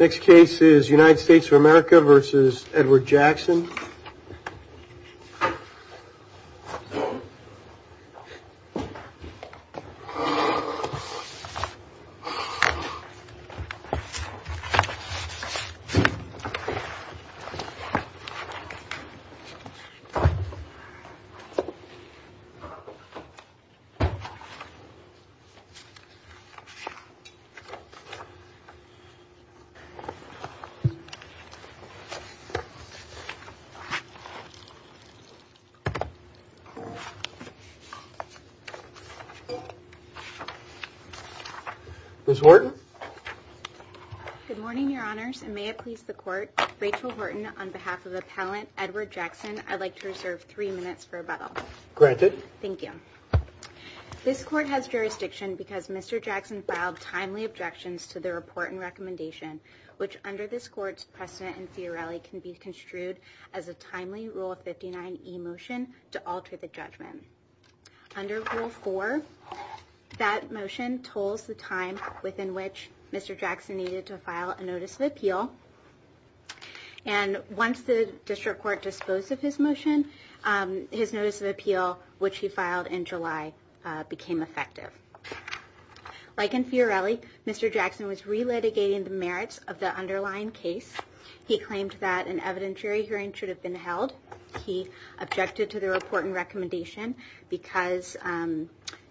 Next case is United States of America v. Edward Jackson Ms. Horton Good morning, Your Honors, and may it please the Court, Rachel Horton, on behalf of Appellant Edward Jackson, I'd like to reserve three minutes for rebuttal. Granted. Thank you. This Court has jurisdiction because Mr. Jackson filed timely objections to the report and litigation, which under this Court's precedent in Fiorelli can be construed as a timely Rule of 59e motion to alter the judgment. Under Rule 4, that motion tolls the time within which Mr. Jackson needed to file a Notice of Appeal, and once the District Court disposed of his motion, his Notice of Appeal, which he filed in July, became effective. Like in Fiorelli, Mr. Jackson was re-litigating the merits of the underlying case. He claimed that an evidentiary hearing should have been held. He objected to the report and recommendation because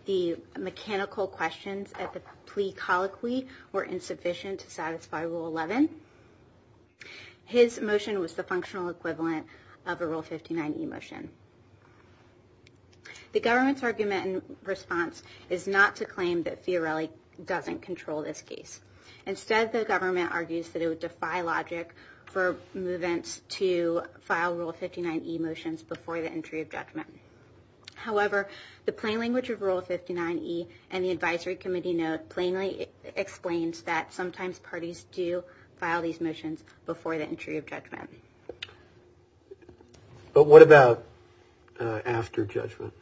the mechanical questions at the plea colloquy were insufficient to satisfy Rule 11. His motion was the functional equivalent of a Rule 59e motion. The government's argument and response is not to claim that Fiorelli doesn't control this case. Instead, the government argues that it would defy logic for movants to file Rule 59e motions before the entry of judgment. However, the plain language of Rule 59e and the Advisory Committee note plainly explains that sometimes parties do file these motions before the entry of judgment. But what about after judgment?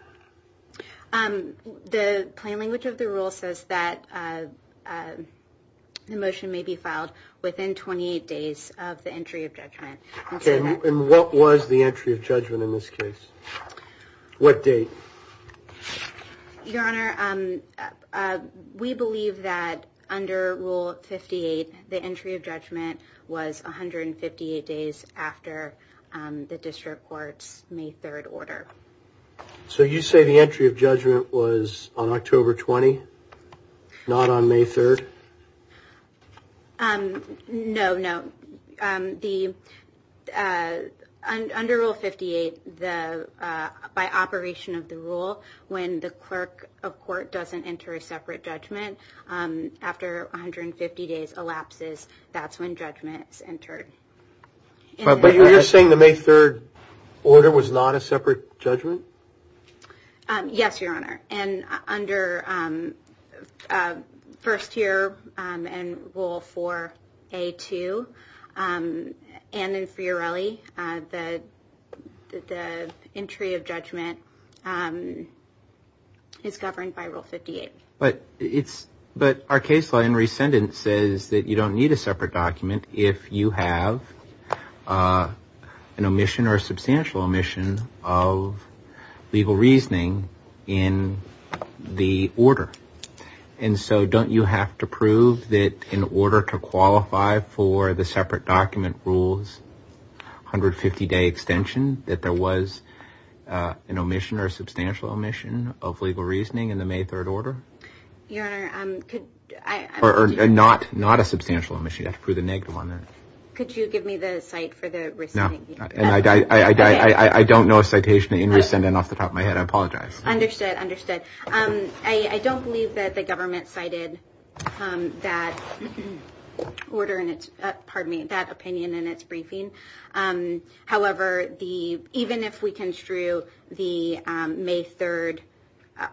The plain language of the rule says that the motion may be filed within 28 days of the entry of judgment. Okay, and what was the entry of judgment in this case? What date? Your Honor, we believe that under Rule 58, the entry of judgment was 158 days after the District Court's May 3rd order. So you say the entry of judgment was on October 20, not on May 3rd? No, no. Under Rule 58, by operation of the rule, when the clerk of court doesn't enter a separate judgment after 150 days elapses, that's when judgment is entered. But you're saying the May 3rd order was not a separate judgment? Yes, Your Honor. And under First Year and Rule 4a.2 and in Fiorelli, the entry of judgment is governed by Rule 58. But our case law in rescindance says that you don't need a separate document if you have an omission or a substantial omission of legal reasoning in the order. And so don't you have to prove that in order to qualify for the separate document rules 150-day extension, that there was an omission or substantial omission of legal reasoning in the May 3rd order? Your Honor, could I... Not a substantial omission. You'd have to prove the negative on that. Could you give me the cite for the rescinding? I don't know a citation in rescindance off the top of my head. I apologize. Understood. Understood. I don't believe that the government cited that opinion in its briefing. However, even if we construe the May 3rd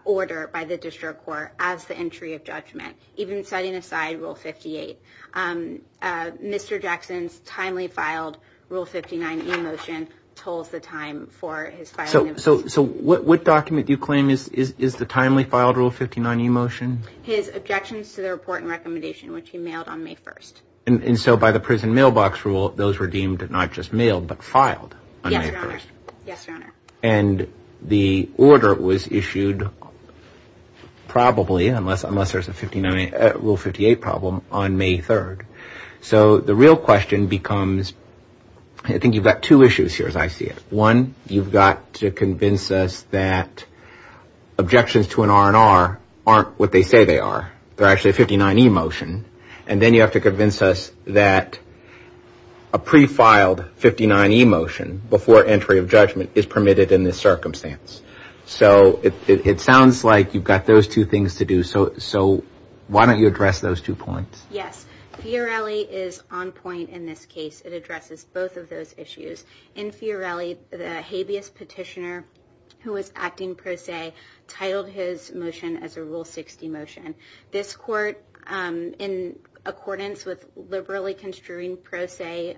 order by the district court as the entry of judgment, even setting aside Rule 58, Mr. Jackson's timely filed Rule 59 e-motion tolls the time for his filing of... So what document do you claim is the timely filed Rule 59 e-motion? His objections to the report and recommendation, which he mailed on May 1st. And so by the prison mailbox rule, those were deemed not just mailed but filed on May 1st. Yes, Your Honor. And the order was issued probably, unless there's a Rule 58 problem, on May 3rd. So the real question becomes... I think you've got two issues here as I see it. One, you've got to convince us that objections to an R&R aren't what they say they are. They're actually a 59 e-motion. And then you have to convince us that a pre-filed 59 e-motion before entry of judgment is permitted in this circumstance. So it sounds like you've got those two things to do. So why don't you address those two points? Yes. Fiorelli is on point in this case. It addresses both of those issues. In Fiorelli, the habeas petitioner who was acting pro se titled his motion as a Rule 60 motion. This court, in accordance with liberally construing pro se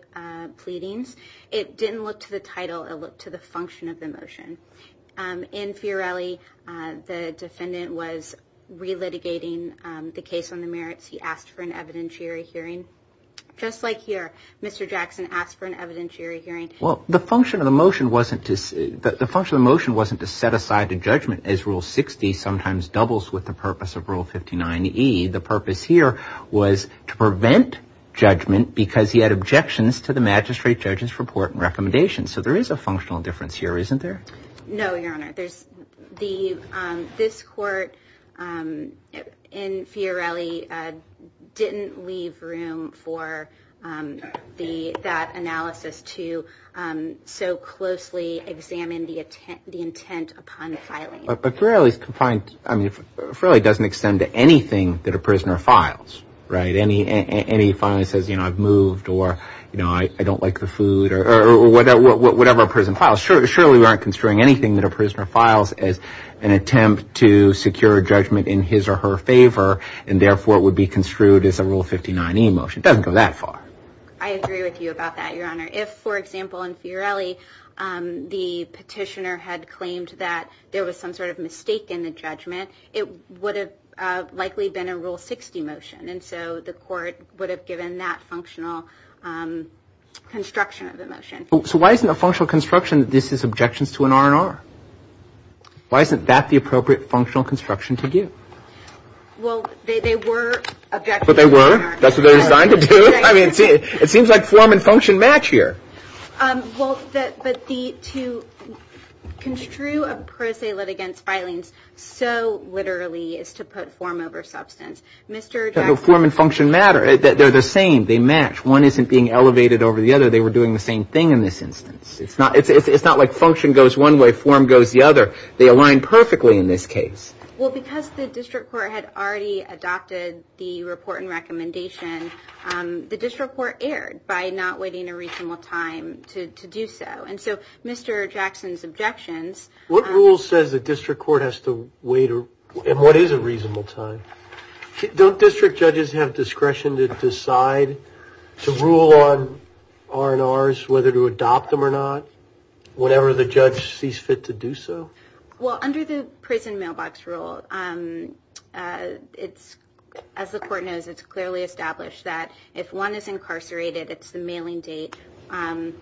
pleadings, it didn't look to the title. It looked to the function of the motion. In Fiorelli, the defendant was relitigating the case on the merits. He asked for an evidentiary hearing. Just like here, Mr. Jackson asked for an evidentiary hearing. Well, the function of the motion wasn't to set aside a judgment as Rule 60 sometimes doubles with the purpose of Rule 59e. The purpose here was to prevent judgment because he had objections to the magistrate judge's report and recommendations. So there is a functional difference here, isn't there? No, Your Honor. This court in Fiorelli didn't leave room for that analysis to so closely examine the intent upon filing. But Fiorelli doesn't extend to anything that a prisoner files, right? Any file that says, you know, I've moved or, you know, I don't like the food or whatever a prison files. Surely we aren't construing anything that a prisoner files as an attempt to secure a judgment in his or her favor, and therefore it would be construed as a Rule 59e motion. It doesn't go that far. I agree with you about that, Your Honor. If, for example, in Fiorelli the petitioner had claimed that there was some sort of mistake in the judgment, it would have likely been a Rule 60 motion. So why isn't a functional construction that this is objections to an R&R? Why isn't that the appropriate functional construction to do? Well, they were objections to an R&R. But they were? That's what they're designed to do? I mean, it seems like form and function match here. Well, but to construe a pro se litigant's filings so literally is to put form over substance. Mr. Jackson. Form and function matter. They're the same. They match. One isn't being elevated over the other. They were doing the same thing in this instance. It's not like function goes one way, form goes the other. They align perfectly in this case. Well, because the district court had already adopted the report and recommendation, the district court erred by not waiting a reasonable time to do so. And so Mr. Jackson's objections. What rule says the district court has to wait? And what is a reasonable time? Don't district judges have discretion to decide to rule on R&Rs, whether to adopt them or not, whenever the judge sees fit to do so? Well, under the prison mailbox rule, as the court knows, it's clearly established that if one is incarcerated, it's the mailing date and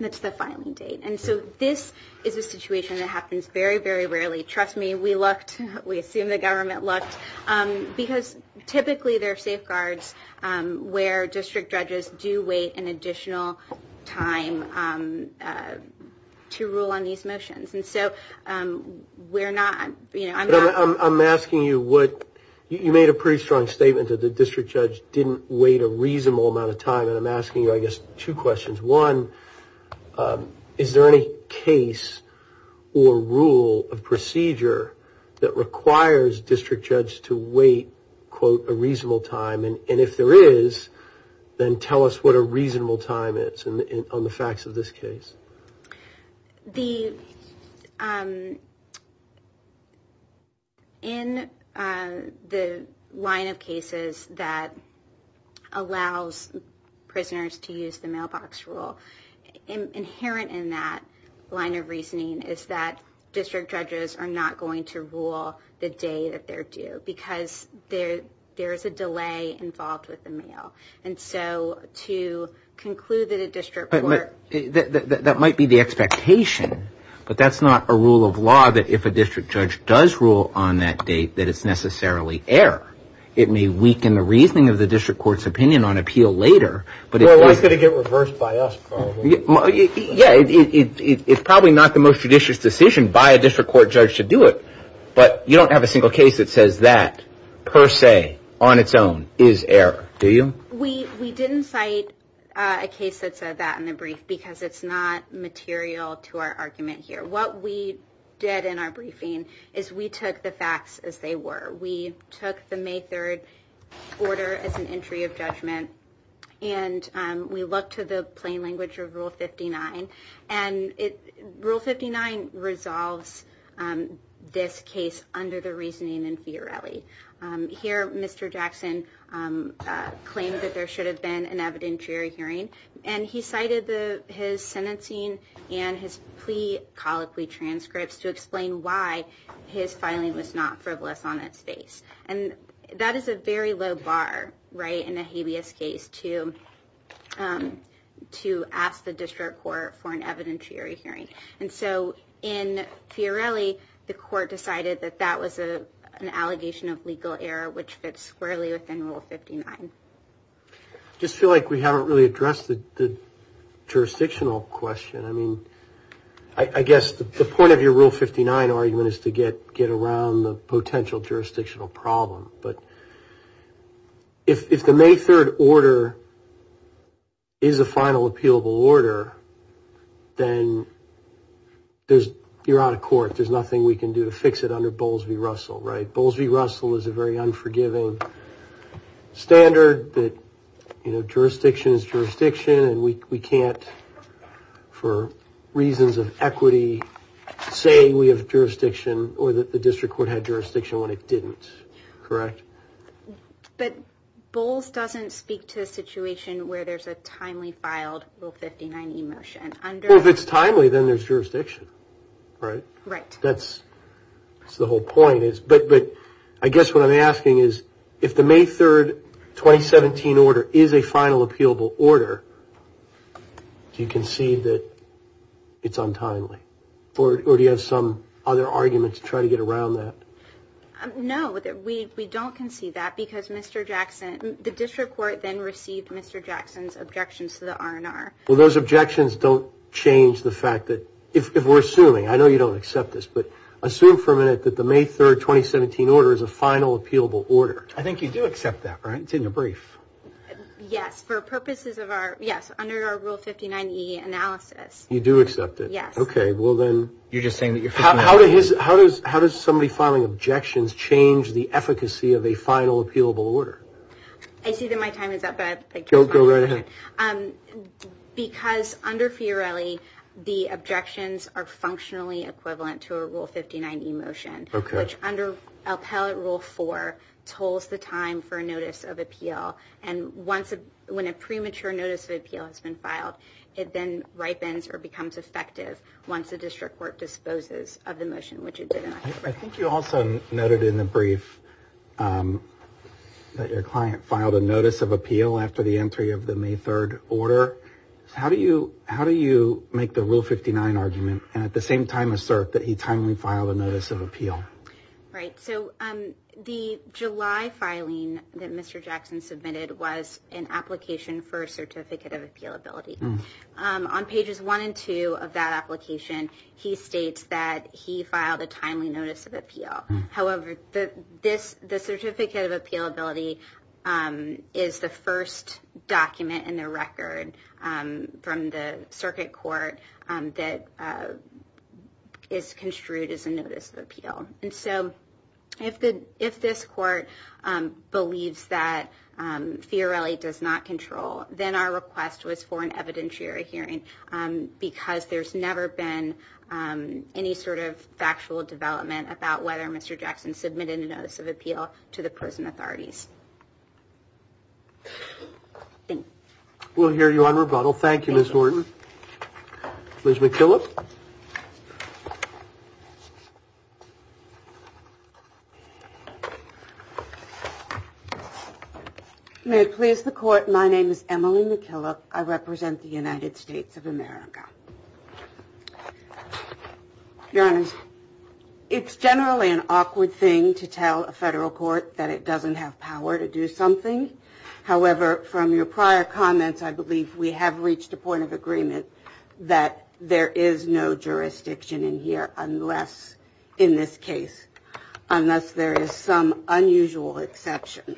it's the filing date. And so this is a situation that happens very, very rarely. Trust me, we lucked. We assume the government lucked. Because typically there are safeguards where district judges do wait an additional time to rule on these motions. And so we're not, you know, I'm not. I'm asking you what. You made a pretty strong statement that the district judge didn't wait a reasonable amount of time. And I'm asking you, I guess, two questions. One, is there any case or rule of procedure that requires district judges to wait, quote, a reasonable time? And if there is, then tell us what a reasonable time is on the facts of this case. The – in the line of cases that allows prisoners to use the mailbox rule, inherent in that line of reasoning is that district judges are not going to rule the day that they're due, because there is a delay involved with the mail. And so to conclude that a district court – That might be the expectation. But that's not a rule of law that if a district judge does rule on that date that it's necessarily error. It may weaken the reasoning of the district court's opinion on appeal later. Well, that's going to get reversed by us probably. Yeah, it's probably not the most judicious decision by a district court judge to do it. But you don't have a single case that says that, per se, on its own, is error, do you? We didn't cite a case that said that in the brief because it's not material to our argument here. What we did in our briefing is we took the facts as they were. We took the May 3rd order as an entry of judgment, and we looked to the plain language of Rule 59. And Rule 59 resolves this case under the reasoning in Fiorelli. Here, Mr. Jackson claimed that there should have been an evidentiary hearing, and he cited his sentencing and his plea colloquy transcripts to explain why his filing was not frivolous on its face. And that is a very low bar, right, in a habeas case to ask the district court for an evidentiary hearing. And so in Fiorelli, the court decided that that was an allegation of legal error, which fits squarely within Rule 59. I just feel like we haven't really addressed the jurisdictional question. I mean, I guess the point of your Rule 59 argument is to get around the potential jurisdictional problem. But if the May 3rd order is a final appealable order, then you're out of court. There's nothing we can do to fix it under Bowles v. Russell, right? Bowles v. Russell is a very unforgiving standard that, you know, jurisdiction is jurisdiction, and we can't, for reasons of equity, say we have jurisdiction or that the district court had jurisdiction when it didn't. Correct? But Bowles doesn't speak to a situation where there's a timely filed Rule 59e motion. Well, if it's timely, then there's jurisdiction, right? Right. That's the whole point. I guess what I'm asking is, if the May 3rd, 2017 order is a final appealable order, do you concede that it's untimely? Or do you have some other argument to try to get around that? No, we don't concede that because Mr. Jackson, the district court then received Mr. Jackson's objections to the R&R. Well, those objections don't change the fact that, if we're assuming, I know you don't accept this, but assume for a minute that the May 3rd, 2017 order is a final appealable order. I think you do accept that, right? It's in your brief. Yes, for purposes of our, yes, under our Rule 59e analysis. You do accept it? Yes. Okay, well then, how does somebody filing objections change the efficacy of a final appealable order? I see that my time is up. Go right ahead. Because, under Fiorelli, the objections are functionally equivalent to a Rule 59e motion, which, under Appellate Rule 4, tolls the time for a notice of appeal. And when a premature notice of appeal has been filed, it then ripens or becomes effective once the district court disposes of the motion, which it didn't. I think you also noted in the brief that your client filed a notice of appeal after the entry of the May 3rd order. How do you make the Rule 59 argument and, at the same time, assert that he timely filed a notice of appeal? Right, so the July filing that Mr. Jackson submitted was an application for a certificate of appealability. On pages 1 and 2 of that application, he states that he filed a timely notice of appeal. However, the certificate of appealability is the first document in the record from the circuit court that is construed as a notice of appeal. And so, if this court believes that Fiorelli does not control, then our request was for an evidentiary hearing, because there's never been any sort of factual development about whether Mr. Jackson submitted a notice of appeal to the prison authorities. We'll hear you on rebuttal. Thank you, Ms. Horton. Ms. McKillop? May it please the Court, my name is Emily McKillop. I represent the United States of America. Your Honor, it's generally an awkward thing to tell a federal court that it doesn't have power to do something. However, from your prior comments, I believe we have reached a point of agreement that there is no jurisdiction in here unless, in this case, unless there is some unusual exception.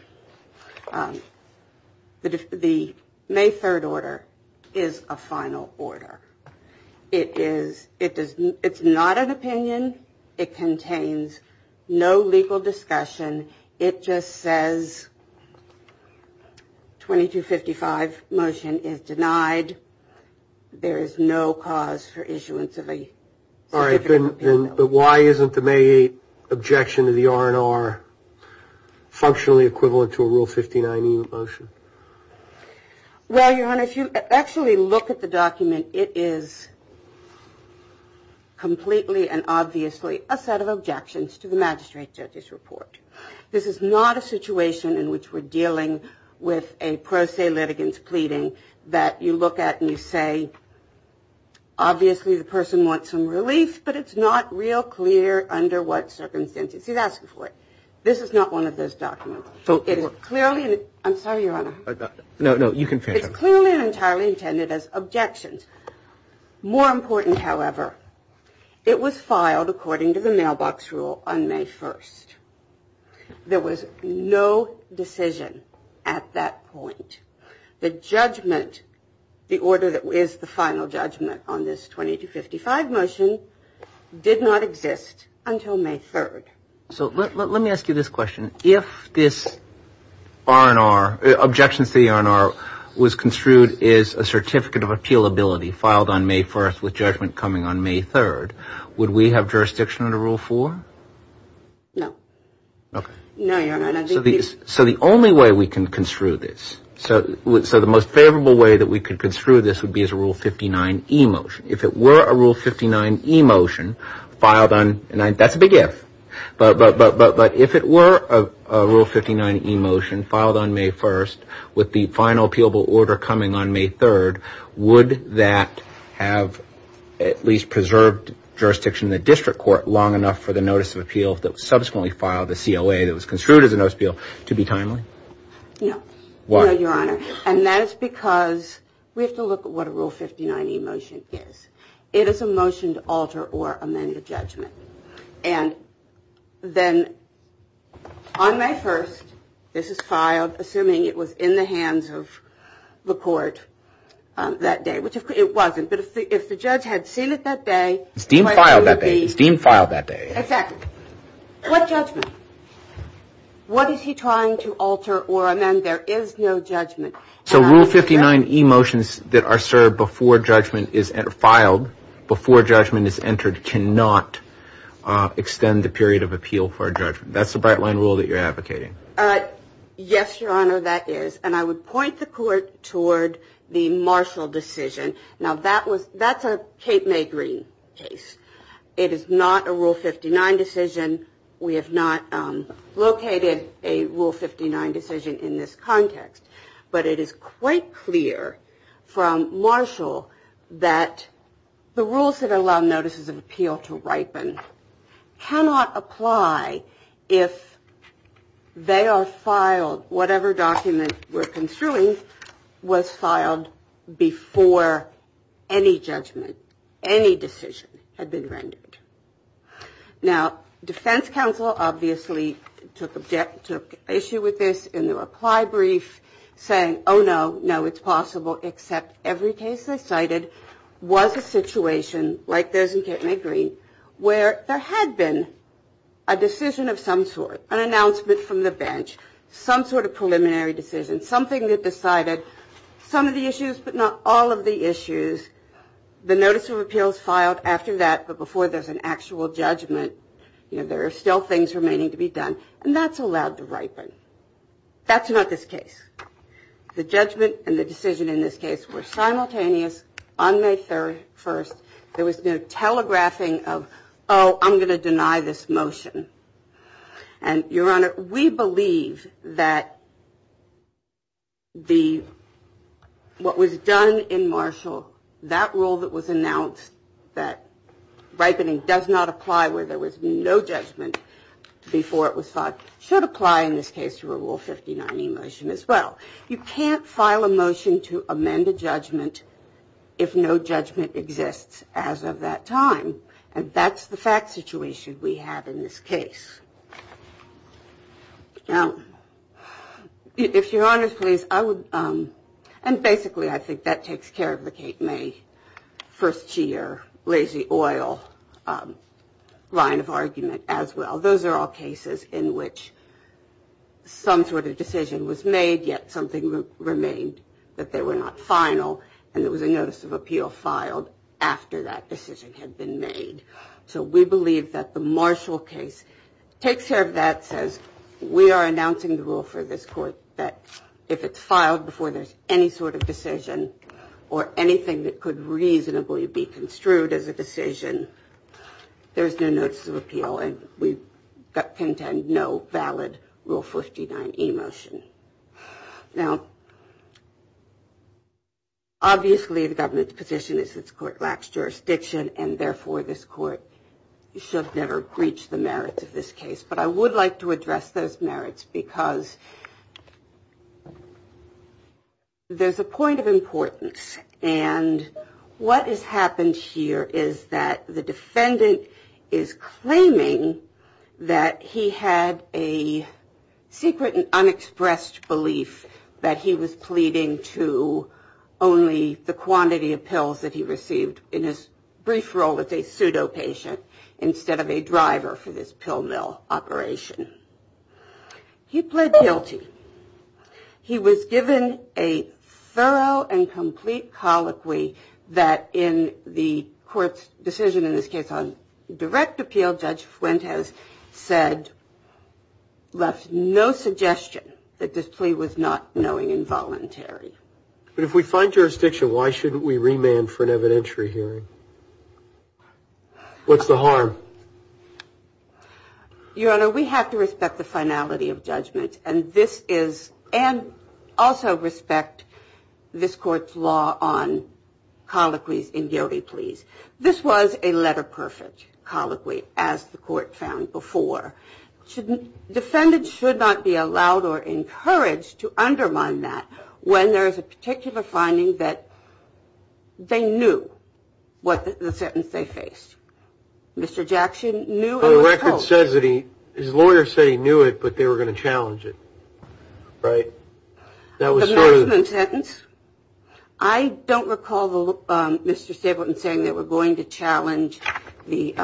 The May 3rd order is a final order. It is, it's not an opinion. It contains no legal discussion. It just says 2255 motion is denied. There is no cause for issuance of a certificate of appeal. But why isn't the May 8th objection to the R&R functionally equivalent to a Rule 59E motion? Well, Your Honor, if you actually look at the document, it is completely and obviously a set of objections to the magistrate judge's report. This is not a situation in which we're dealing with a pro se litigant's pleading that you look at and you say, Obviously, the person wants some relief, but it's not real clear under what circumstances. He's asking for it. This is not one of those documents. It is clearly, I'm sorry, Your Honor. No, no, you can finish. It's clearly and entirely intended as objections. More important, however, it was filed according to the mailbox rule on May 1st. There was no decision at that point. The judgment, the order that is the final judgment on this 2255 motion did not exist until May 3rd. So let me ask you this question. If this R&R, objection to the R&R was construed as a certificate of appealability filed on May 1st with judgment coming on May 3rd, would we have jurisdiction under Rule 4? No. Okay. No, Your Honor. So the only way we can construe this, so the most favorable way that we could construe this would be as a Rule 59e motion. If it were a Rule 59e motion filed on, and that's a big if, but if it were a Rule 59e motion filed on May 1st with the final appealable order coming on May 3rd, would that have at least preserved jurisdiction in the district court long enough for the notice of appeal that was subsequently filed, the COA that was construed as a notice of appeal, to be timely? No. Why? No, Your Honor. And that is because we have to look at what a Rule 59e motion is. It is a motion to alter or amend the judgment. And then on May 1st, this is filed, assuming it was in the hands of the court that day, which it wasn't, but if the judge had seen it that day, It's deemed filed that day. It's deemed filed that day. Exactly. What judgment? What is he trying to alter or amend? There is no judgment. So Rule 59e motions that are served before judgment is filed, before judgment is entered, cannot extend the period of appeal for judgment. That's the bright line rule that you're advocating. Yes, Your Honor, that is. And I would point the court toward the Marshall decision. Now that was, that's a Cape May Green case. It is not a Rule 59 decision. We have not located a Rule 59 decision in this context. But it is quite clear from Marshall that the rules that allow notices of appeal to ripen cannot apply if they are filed, whatever document we're construing was filed before any judgment, any decision had been rendered. Now, defense counsel obviously took issue with this in the reply brief, saying, oh no, no, it's possible, except every case they cited was a situation, like those in Cape May Green, where there had been a decision of some sort, an announcement from the bench, some sort of preliminary decision, something that decided some of the issues, but not all of the issues. The notice of appeal is filed after that, but before there's an actual judgment, there are still things remaining to be done. And that's allowed to ripen. That's not this case. The judgment and the decision in this case were simultaneous on May 3rd, there was no telegraphing of, oh, I'm going to deny this motion. And, Your Honor, we believe that what was done in Marshall, that rule that was announced, that ripening does not apply where there was no judgment before it was filed, should apply in this case to a Rule 59 emotion as well. You can't file a motion to amend a judgment if no judgment exists as of that time. And that's the fact situation we have in this case. Now, if Your Honor's please, I would, and basically I think that takes care of the Cape May first year, lazy oil line of argument as well. Those are all cases in which some sort of decision was made, yet something remained that they were not final. And it was a notice of appeal filed after that decision had been made. So we believe that the Marshall case takes care of that, says we are announcing the rule for this court that if it's filed before there's any sort of decision or anything that could reasonably be construed as a decision, there's no notice of appeal and we contend no valid Rule 59 emotion. Now, obviously, the government's position is its court lacks jurisdiction and therefore this court should never reach the merits of this case. But I would like to address those merits because there's a point of importance. And what has happened here is that the defendant is claiming that he had a secret and unexpressed belief that he was pleading to only the quantity of pills that he received in his brief role as a pseudo patient instead of a driver for this pill mill operation. He pled guilty. He was given a thorough and complete colloquy that in the court's decision in this case on direct appeal, Judge Fuentes said, left no suggestion that this plea was not knowing involuntary. But if we find jurisdiction, why shouldn't we remand for an evidentiary hearing? What's the harm? Your Honor, we have to respect the finality of judgment. And this is and also respect this court's law on colloquies in guilty pleas. This was a letter perfect colloquy as the court found before. Defendants should not be allowed or encouraged to undermine that when there is a particular finding that they knew what the sentence they faced. Mr. Jackson knew. The record says that he his lawyer said he knew it, but they were going to challenge it. Right. That was the sentence. I don't recall Mr. Stapleton saying that we're going to challenge the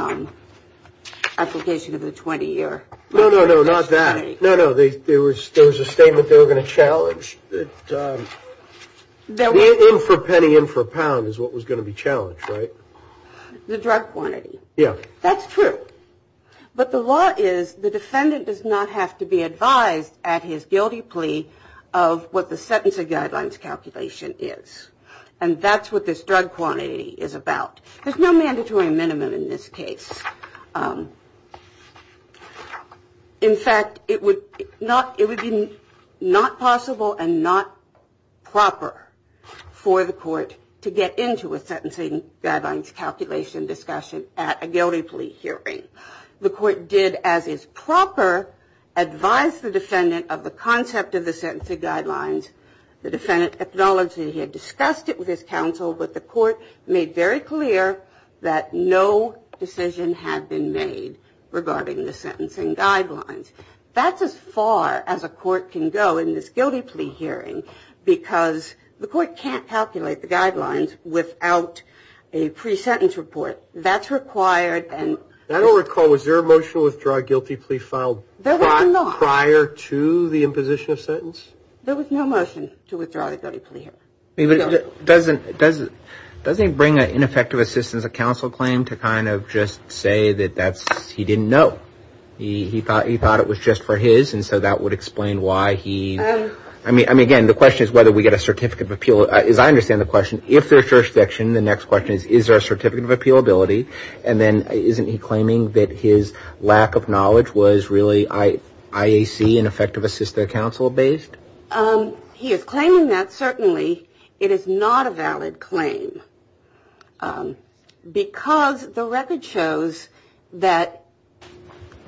application of the 20 year. No, no, no. Not that. No, no. There was there was a statement they were going to challenge that in for a penny, in for a pound is what was going to be challenged. Right. The drug quantity. Yeah, that's true. But the law is the defendant does not have to be advised at his guilty plea of what the sentencing guidelines calculation is. And that's what this drug quantity is about. There's no mandatory minimum in this case. In fact, it would not it would be not possible and not proper for the court to get into a sentencing guidelines calculation discussion at a guilty plea hearing. The court did, as is proper, advise the defendant of the concept of the sentencing guidelines. The defendant acknowledged that he had discussed it with his counsel. But the court made very clear that no decision had been made regarding the sentencing guidelines. That's as far as a court can go in this guilty plea hearing because the court can't calculate the guidelines without a pre-sentence report. But that's required. And I don't recall, was there a motion to withdraw a guilty plea filed prior to the imposition of sentence? There was no motion to withdraw the guilty plea hearing. Doesn't it bring an ineffective assistance of counsel claim to kind of just say that that's he didn't know. He thought he thought it was just for his. And so that would explain why he I mean, I mean, again, the question is whether we get a certificate of appeal. So as I understand the question, if there's jurisdiction, the next question is, is there a certificate of appeal ability? And then isn't he claiming that his lack of knowledge was really IAC and effective assist their counsel based. He is claiming that certainly it is not a valid claim because the record shows that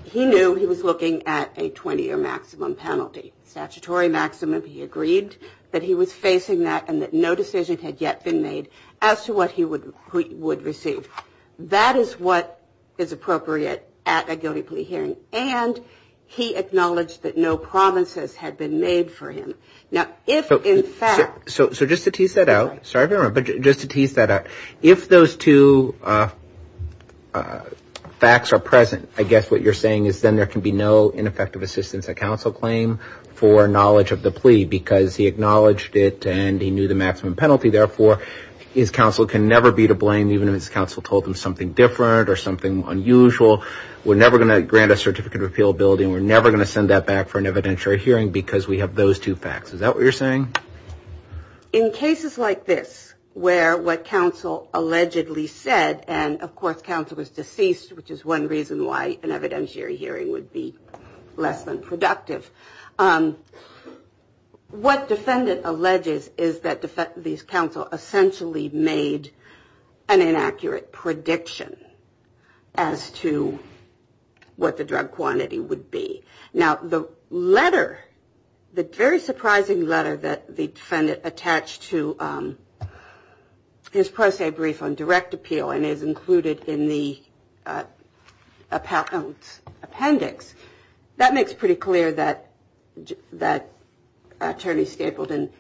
he knew he was looking at a 20 year maximum penalty statutory maximum. He agreed that he was facing that and that no decision had yet been made as to what he would would receive. That is what is appropriate at a guilty plea hearing. And he acknowledged that no promises had been made for him. Now, if in fact. So just to tease that out. Sorry, but just to tease that out. If those two facts are present, I guess what you're saying is then there can be no ineffective assistance. A counsel claim for knowledge of the plea because he acknowledged it and he knew the maximum penalty. Therefore, his counsel can never be to blame, even if his counsel told him something different or something unusual. We're never going to grant a certificate of appeal building. We're never going to send that back for an evidentiary hearing because we have those two facts. Is that what you're saying? In cases like this, where what counsel allegedly said, and of course, counsel was deceased, which is one reason why an evidentiary hearing would be less than productive. What defendant alleges is that these counsel essentially made an inaccurate prediction as to what the drug quantity would be. Now, the letter, the very surprising letter that the defendant attached to his pro se brief on direct appeal and is included in the appendix. That makes pretty clear that that attorney Stapleton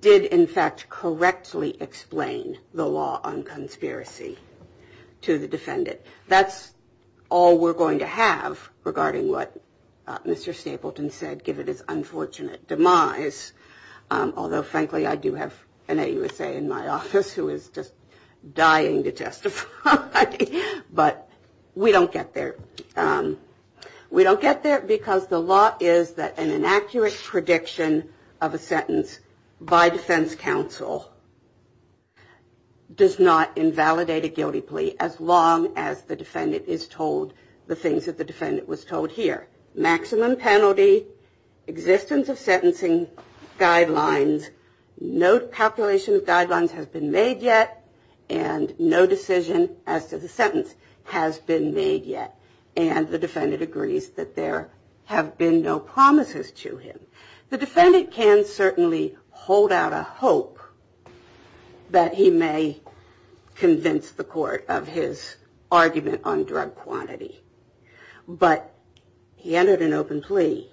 did, in fact, correctly explain the law on conspiracy to the defendant. That's all we're going to have regarding what Mr. Stapleton said, given his unfortunate demise. Although, frankly, I do have an AUSA in my office who is just dying to testify. But we don't get there. We don't get there because the law is that an inaccurate prediction of a sentence by defense counsel does not invalidate a guilty plea as long as the defendant is told the things that the defendant was told here. Maximum penalty, existence of sentencing guidelines, no calculation of guidelines has been made yet, and no decision as to the sentence has been made yet. And the defendant agrees that there have been no promises to him. The defendant can certainly hold out a hope that he may convince the court of his argument on drug quantity. But he entered an open plea.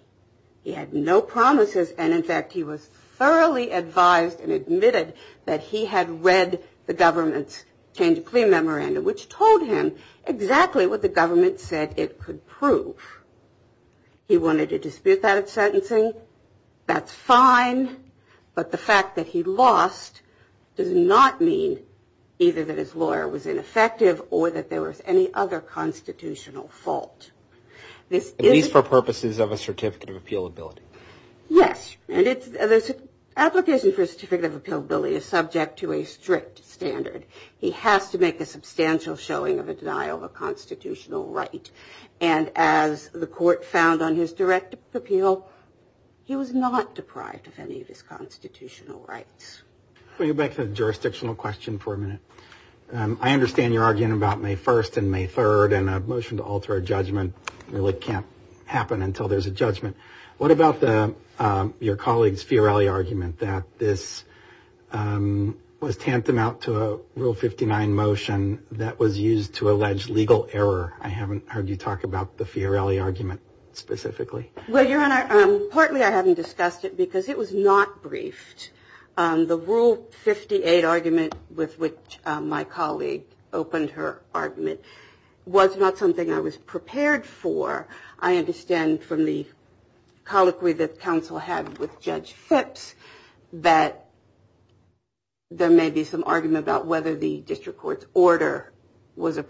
He had no promises. And, in fact, he was thoroughly advised and admitted that he had read the government's change of plea memorandum, which told him exactly what the government said it could prove. He wanted to dispute that at sentencing. That's fine. But the fact that he lost does not mean either that his lawyer was ineffective or that there was any other constitutional fault. At least for purposes of a certificate of appealability. Yes. And the application for a certificate of appealability is subject to a strict standard. He has to make a substantial showing of a denial of a constitutional right. And as the court found on his direct appeal, he was not deprived of any of his constitutional rights. Let me go back to the jurisdictional question for a minute. I understand you're arguing about May 1st and May 3rd, and a motion to alter a judgment really can't happen until there's a judgment. What about your colleague's Fiorelli argument that this was tantamount to a Rule 59 motion that was used to allege legal error? I haven't heard you talk about the Fiorelli argument specifically. Well, Your Honor, partly I haven't discussed it because it was not briefed. The Rule 58 argument with which my colleague opened her argument was not something I was prepared for. I understand from the colloquy that counsel had with Judge Phipps that there may be some argument about whether the district court's order was an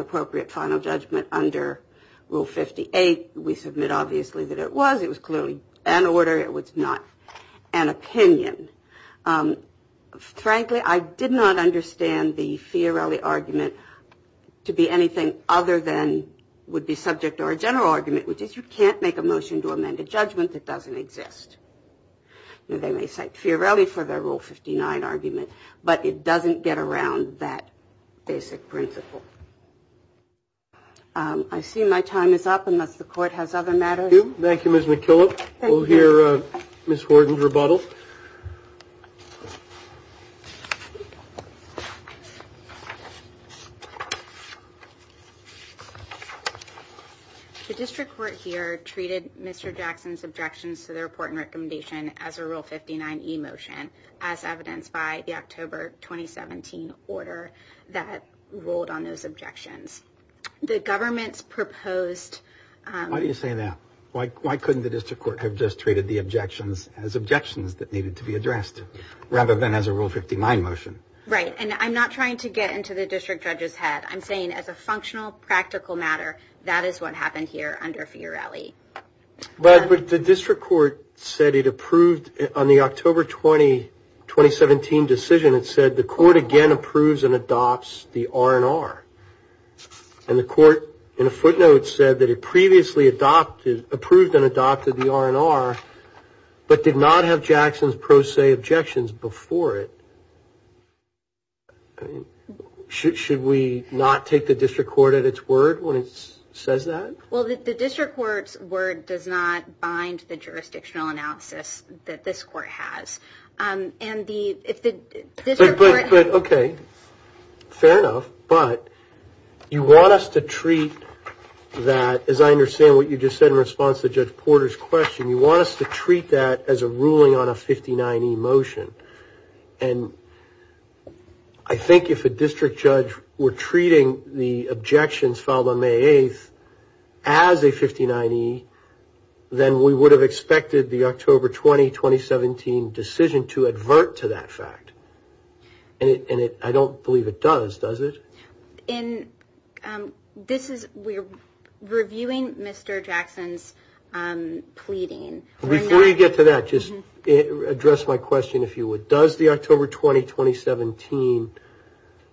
appropriate final judgment under Rule 58. We submit obviously that it was. It was clearly an order. It was not an opinion. Frankly, I did not understand the Fiorelli argument to be anything other than would be subject to our general argument, which is you can't make a motion to amend a judgment that doesn't exist. They may cite Fiorelli for their Rule 59 argument, but it doesn't get around that basic principle. I see my time is up unless the court has other matters. Thank you, Ms. McKillop. We'll hear Ms. Horton's rebuttal. The district court here treated Mr. Jackson's objections to the report and recommendation as a Rule 59 e-motion, as evidenced by the October 2017 order that ruled on those objections. The government's proposed. Why do you say that? Why couldn't the district court have just treated the objections as objections that needed to be addressed, rather than as a Rule 59 motion? Right. And I'm not trying to get into the district judge's head. I'm saying as a functional, practical matter, that is what happened here under Fiorelli. But the district court said it approved on the October 2017 decision. It said the court again approves and adopts the R&R. And the court in a footnote said that it previously approved and adopted the R&R, but did not have Jackson's pro se objections before it. Should we not take the district court at its word when it says that? Well, the district court's word does not bind the jurisdictional analysis that this court has. But, okay, fair enough. But you want us to treat that, as I understand what you just said in response to Judge Porter's question, you want us to treat that as a ruling on a 59 e-motion. And I think if a district judge were treating the objections filed on May 8th as a 59 e, then we would have expected the October 20, 2017 decision to advert to that fact. And I don't believe it does, does it? We're reviewing Mr. Jackson's pleading. Before you get to that, just address my question, if you would. Does the October 20, 2017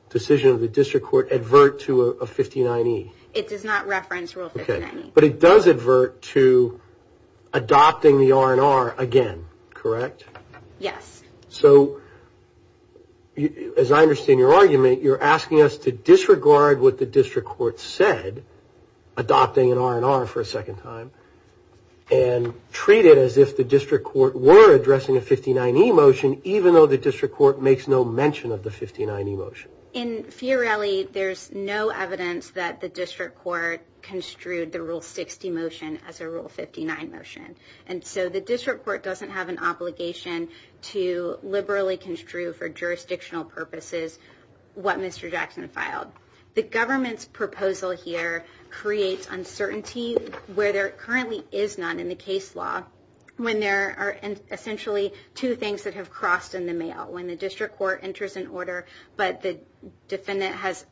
decision of the district court advert to a 59 e? It does not reference Rule 59 e. But it does advert to adopting the R&R again, correct? Yes. So, as I understand your argument, you're asking us to disregard what the district court said, adopting an R&R for a second time, and treat it as if the district court were addressing a 59 e motion, even though the district court makes no mention of the 59 e motion. In Fiorelli, there's no evidence that the district court construed the Rule 60 motion as a Rule 59 motion. And so the district court doesn't have an obligation to liberally construe, for jurisdictional purposes, what Mr. Jackson filed. The government's proposal here creates uncertainty where there currently is none in the case law, when there are essentially two things that have crossed in the mail. When the district court enters an order, but the defendant has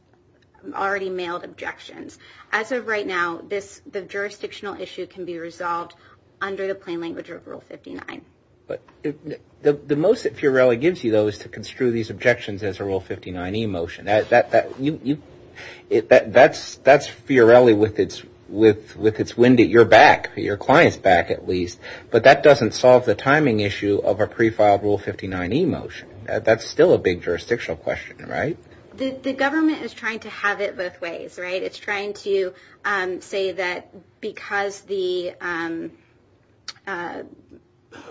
already mailed objections. As of right now, the jurisdictional issue can be resolved under the plain language of Rule 59. But the most that Fiorelli gives you, though, is to construe these objections as a Rule 59 e motion. That's Fiorelli with its wind at your back, your client's back at least. But that doesn't solve the timing issue of a pre-filed Rule 59 e motion. That's still a big jurisdictional question, right? The government is trying to have it both ways, right? It's trying to say that because the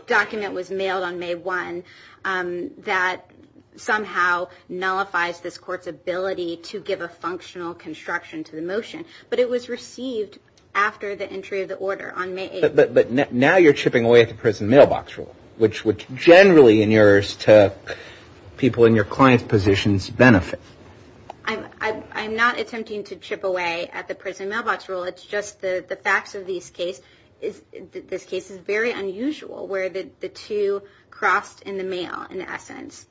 document was mailed on May 1, that somehow nullifies this court's ability to give a functional construction to the motion. But it was received after the entry of the order on May 8. But now you're chipping away at the prison mailbox rule, which generally in yours to people in your client's positions benefit. I'm not attempting to chip away at the prison mailbox rule. It's just the facts of this case is very unusual where the two crossed in the mail in essence.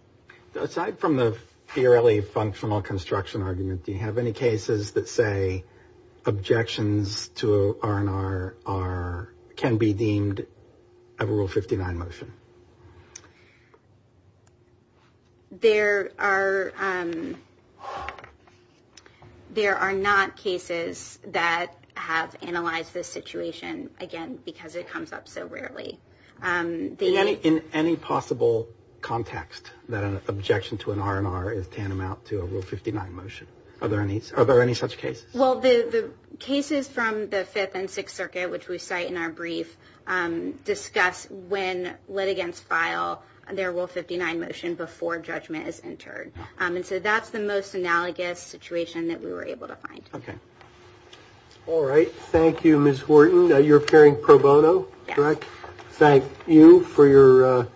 Aside from the Fiorelli functional construction argument, do you have any cases that say objections to R&R can be deemed a Rule 59 motion? There are not cases that have analyzed this situation, again, because it comes up so rarely. In any possible context that an objection to an R&R is tantamount to a Rule 59 motion? Are there any such cases? Well, the cases from the Fifth and Sixth Circuit, which we cite in our brief, discuss when litigants file their Rule 59 motion before judgment is entered. And so that's the most analogous situation that we were able to find. All right. Thank you, Ms. Horton. You're appearing pro bono, correct? Yes. Thank you for your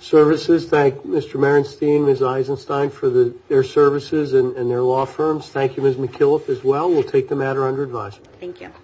services. Thank Mr. Merenstein and Ms. Eisenstein for their services and their law firms. Thank you, Ms. McKillop, as well. We'll take the matter under advice. Thank you.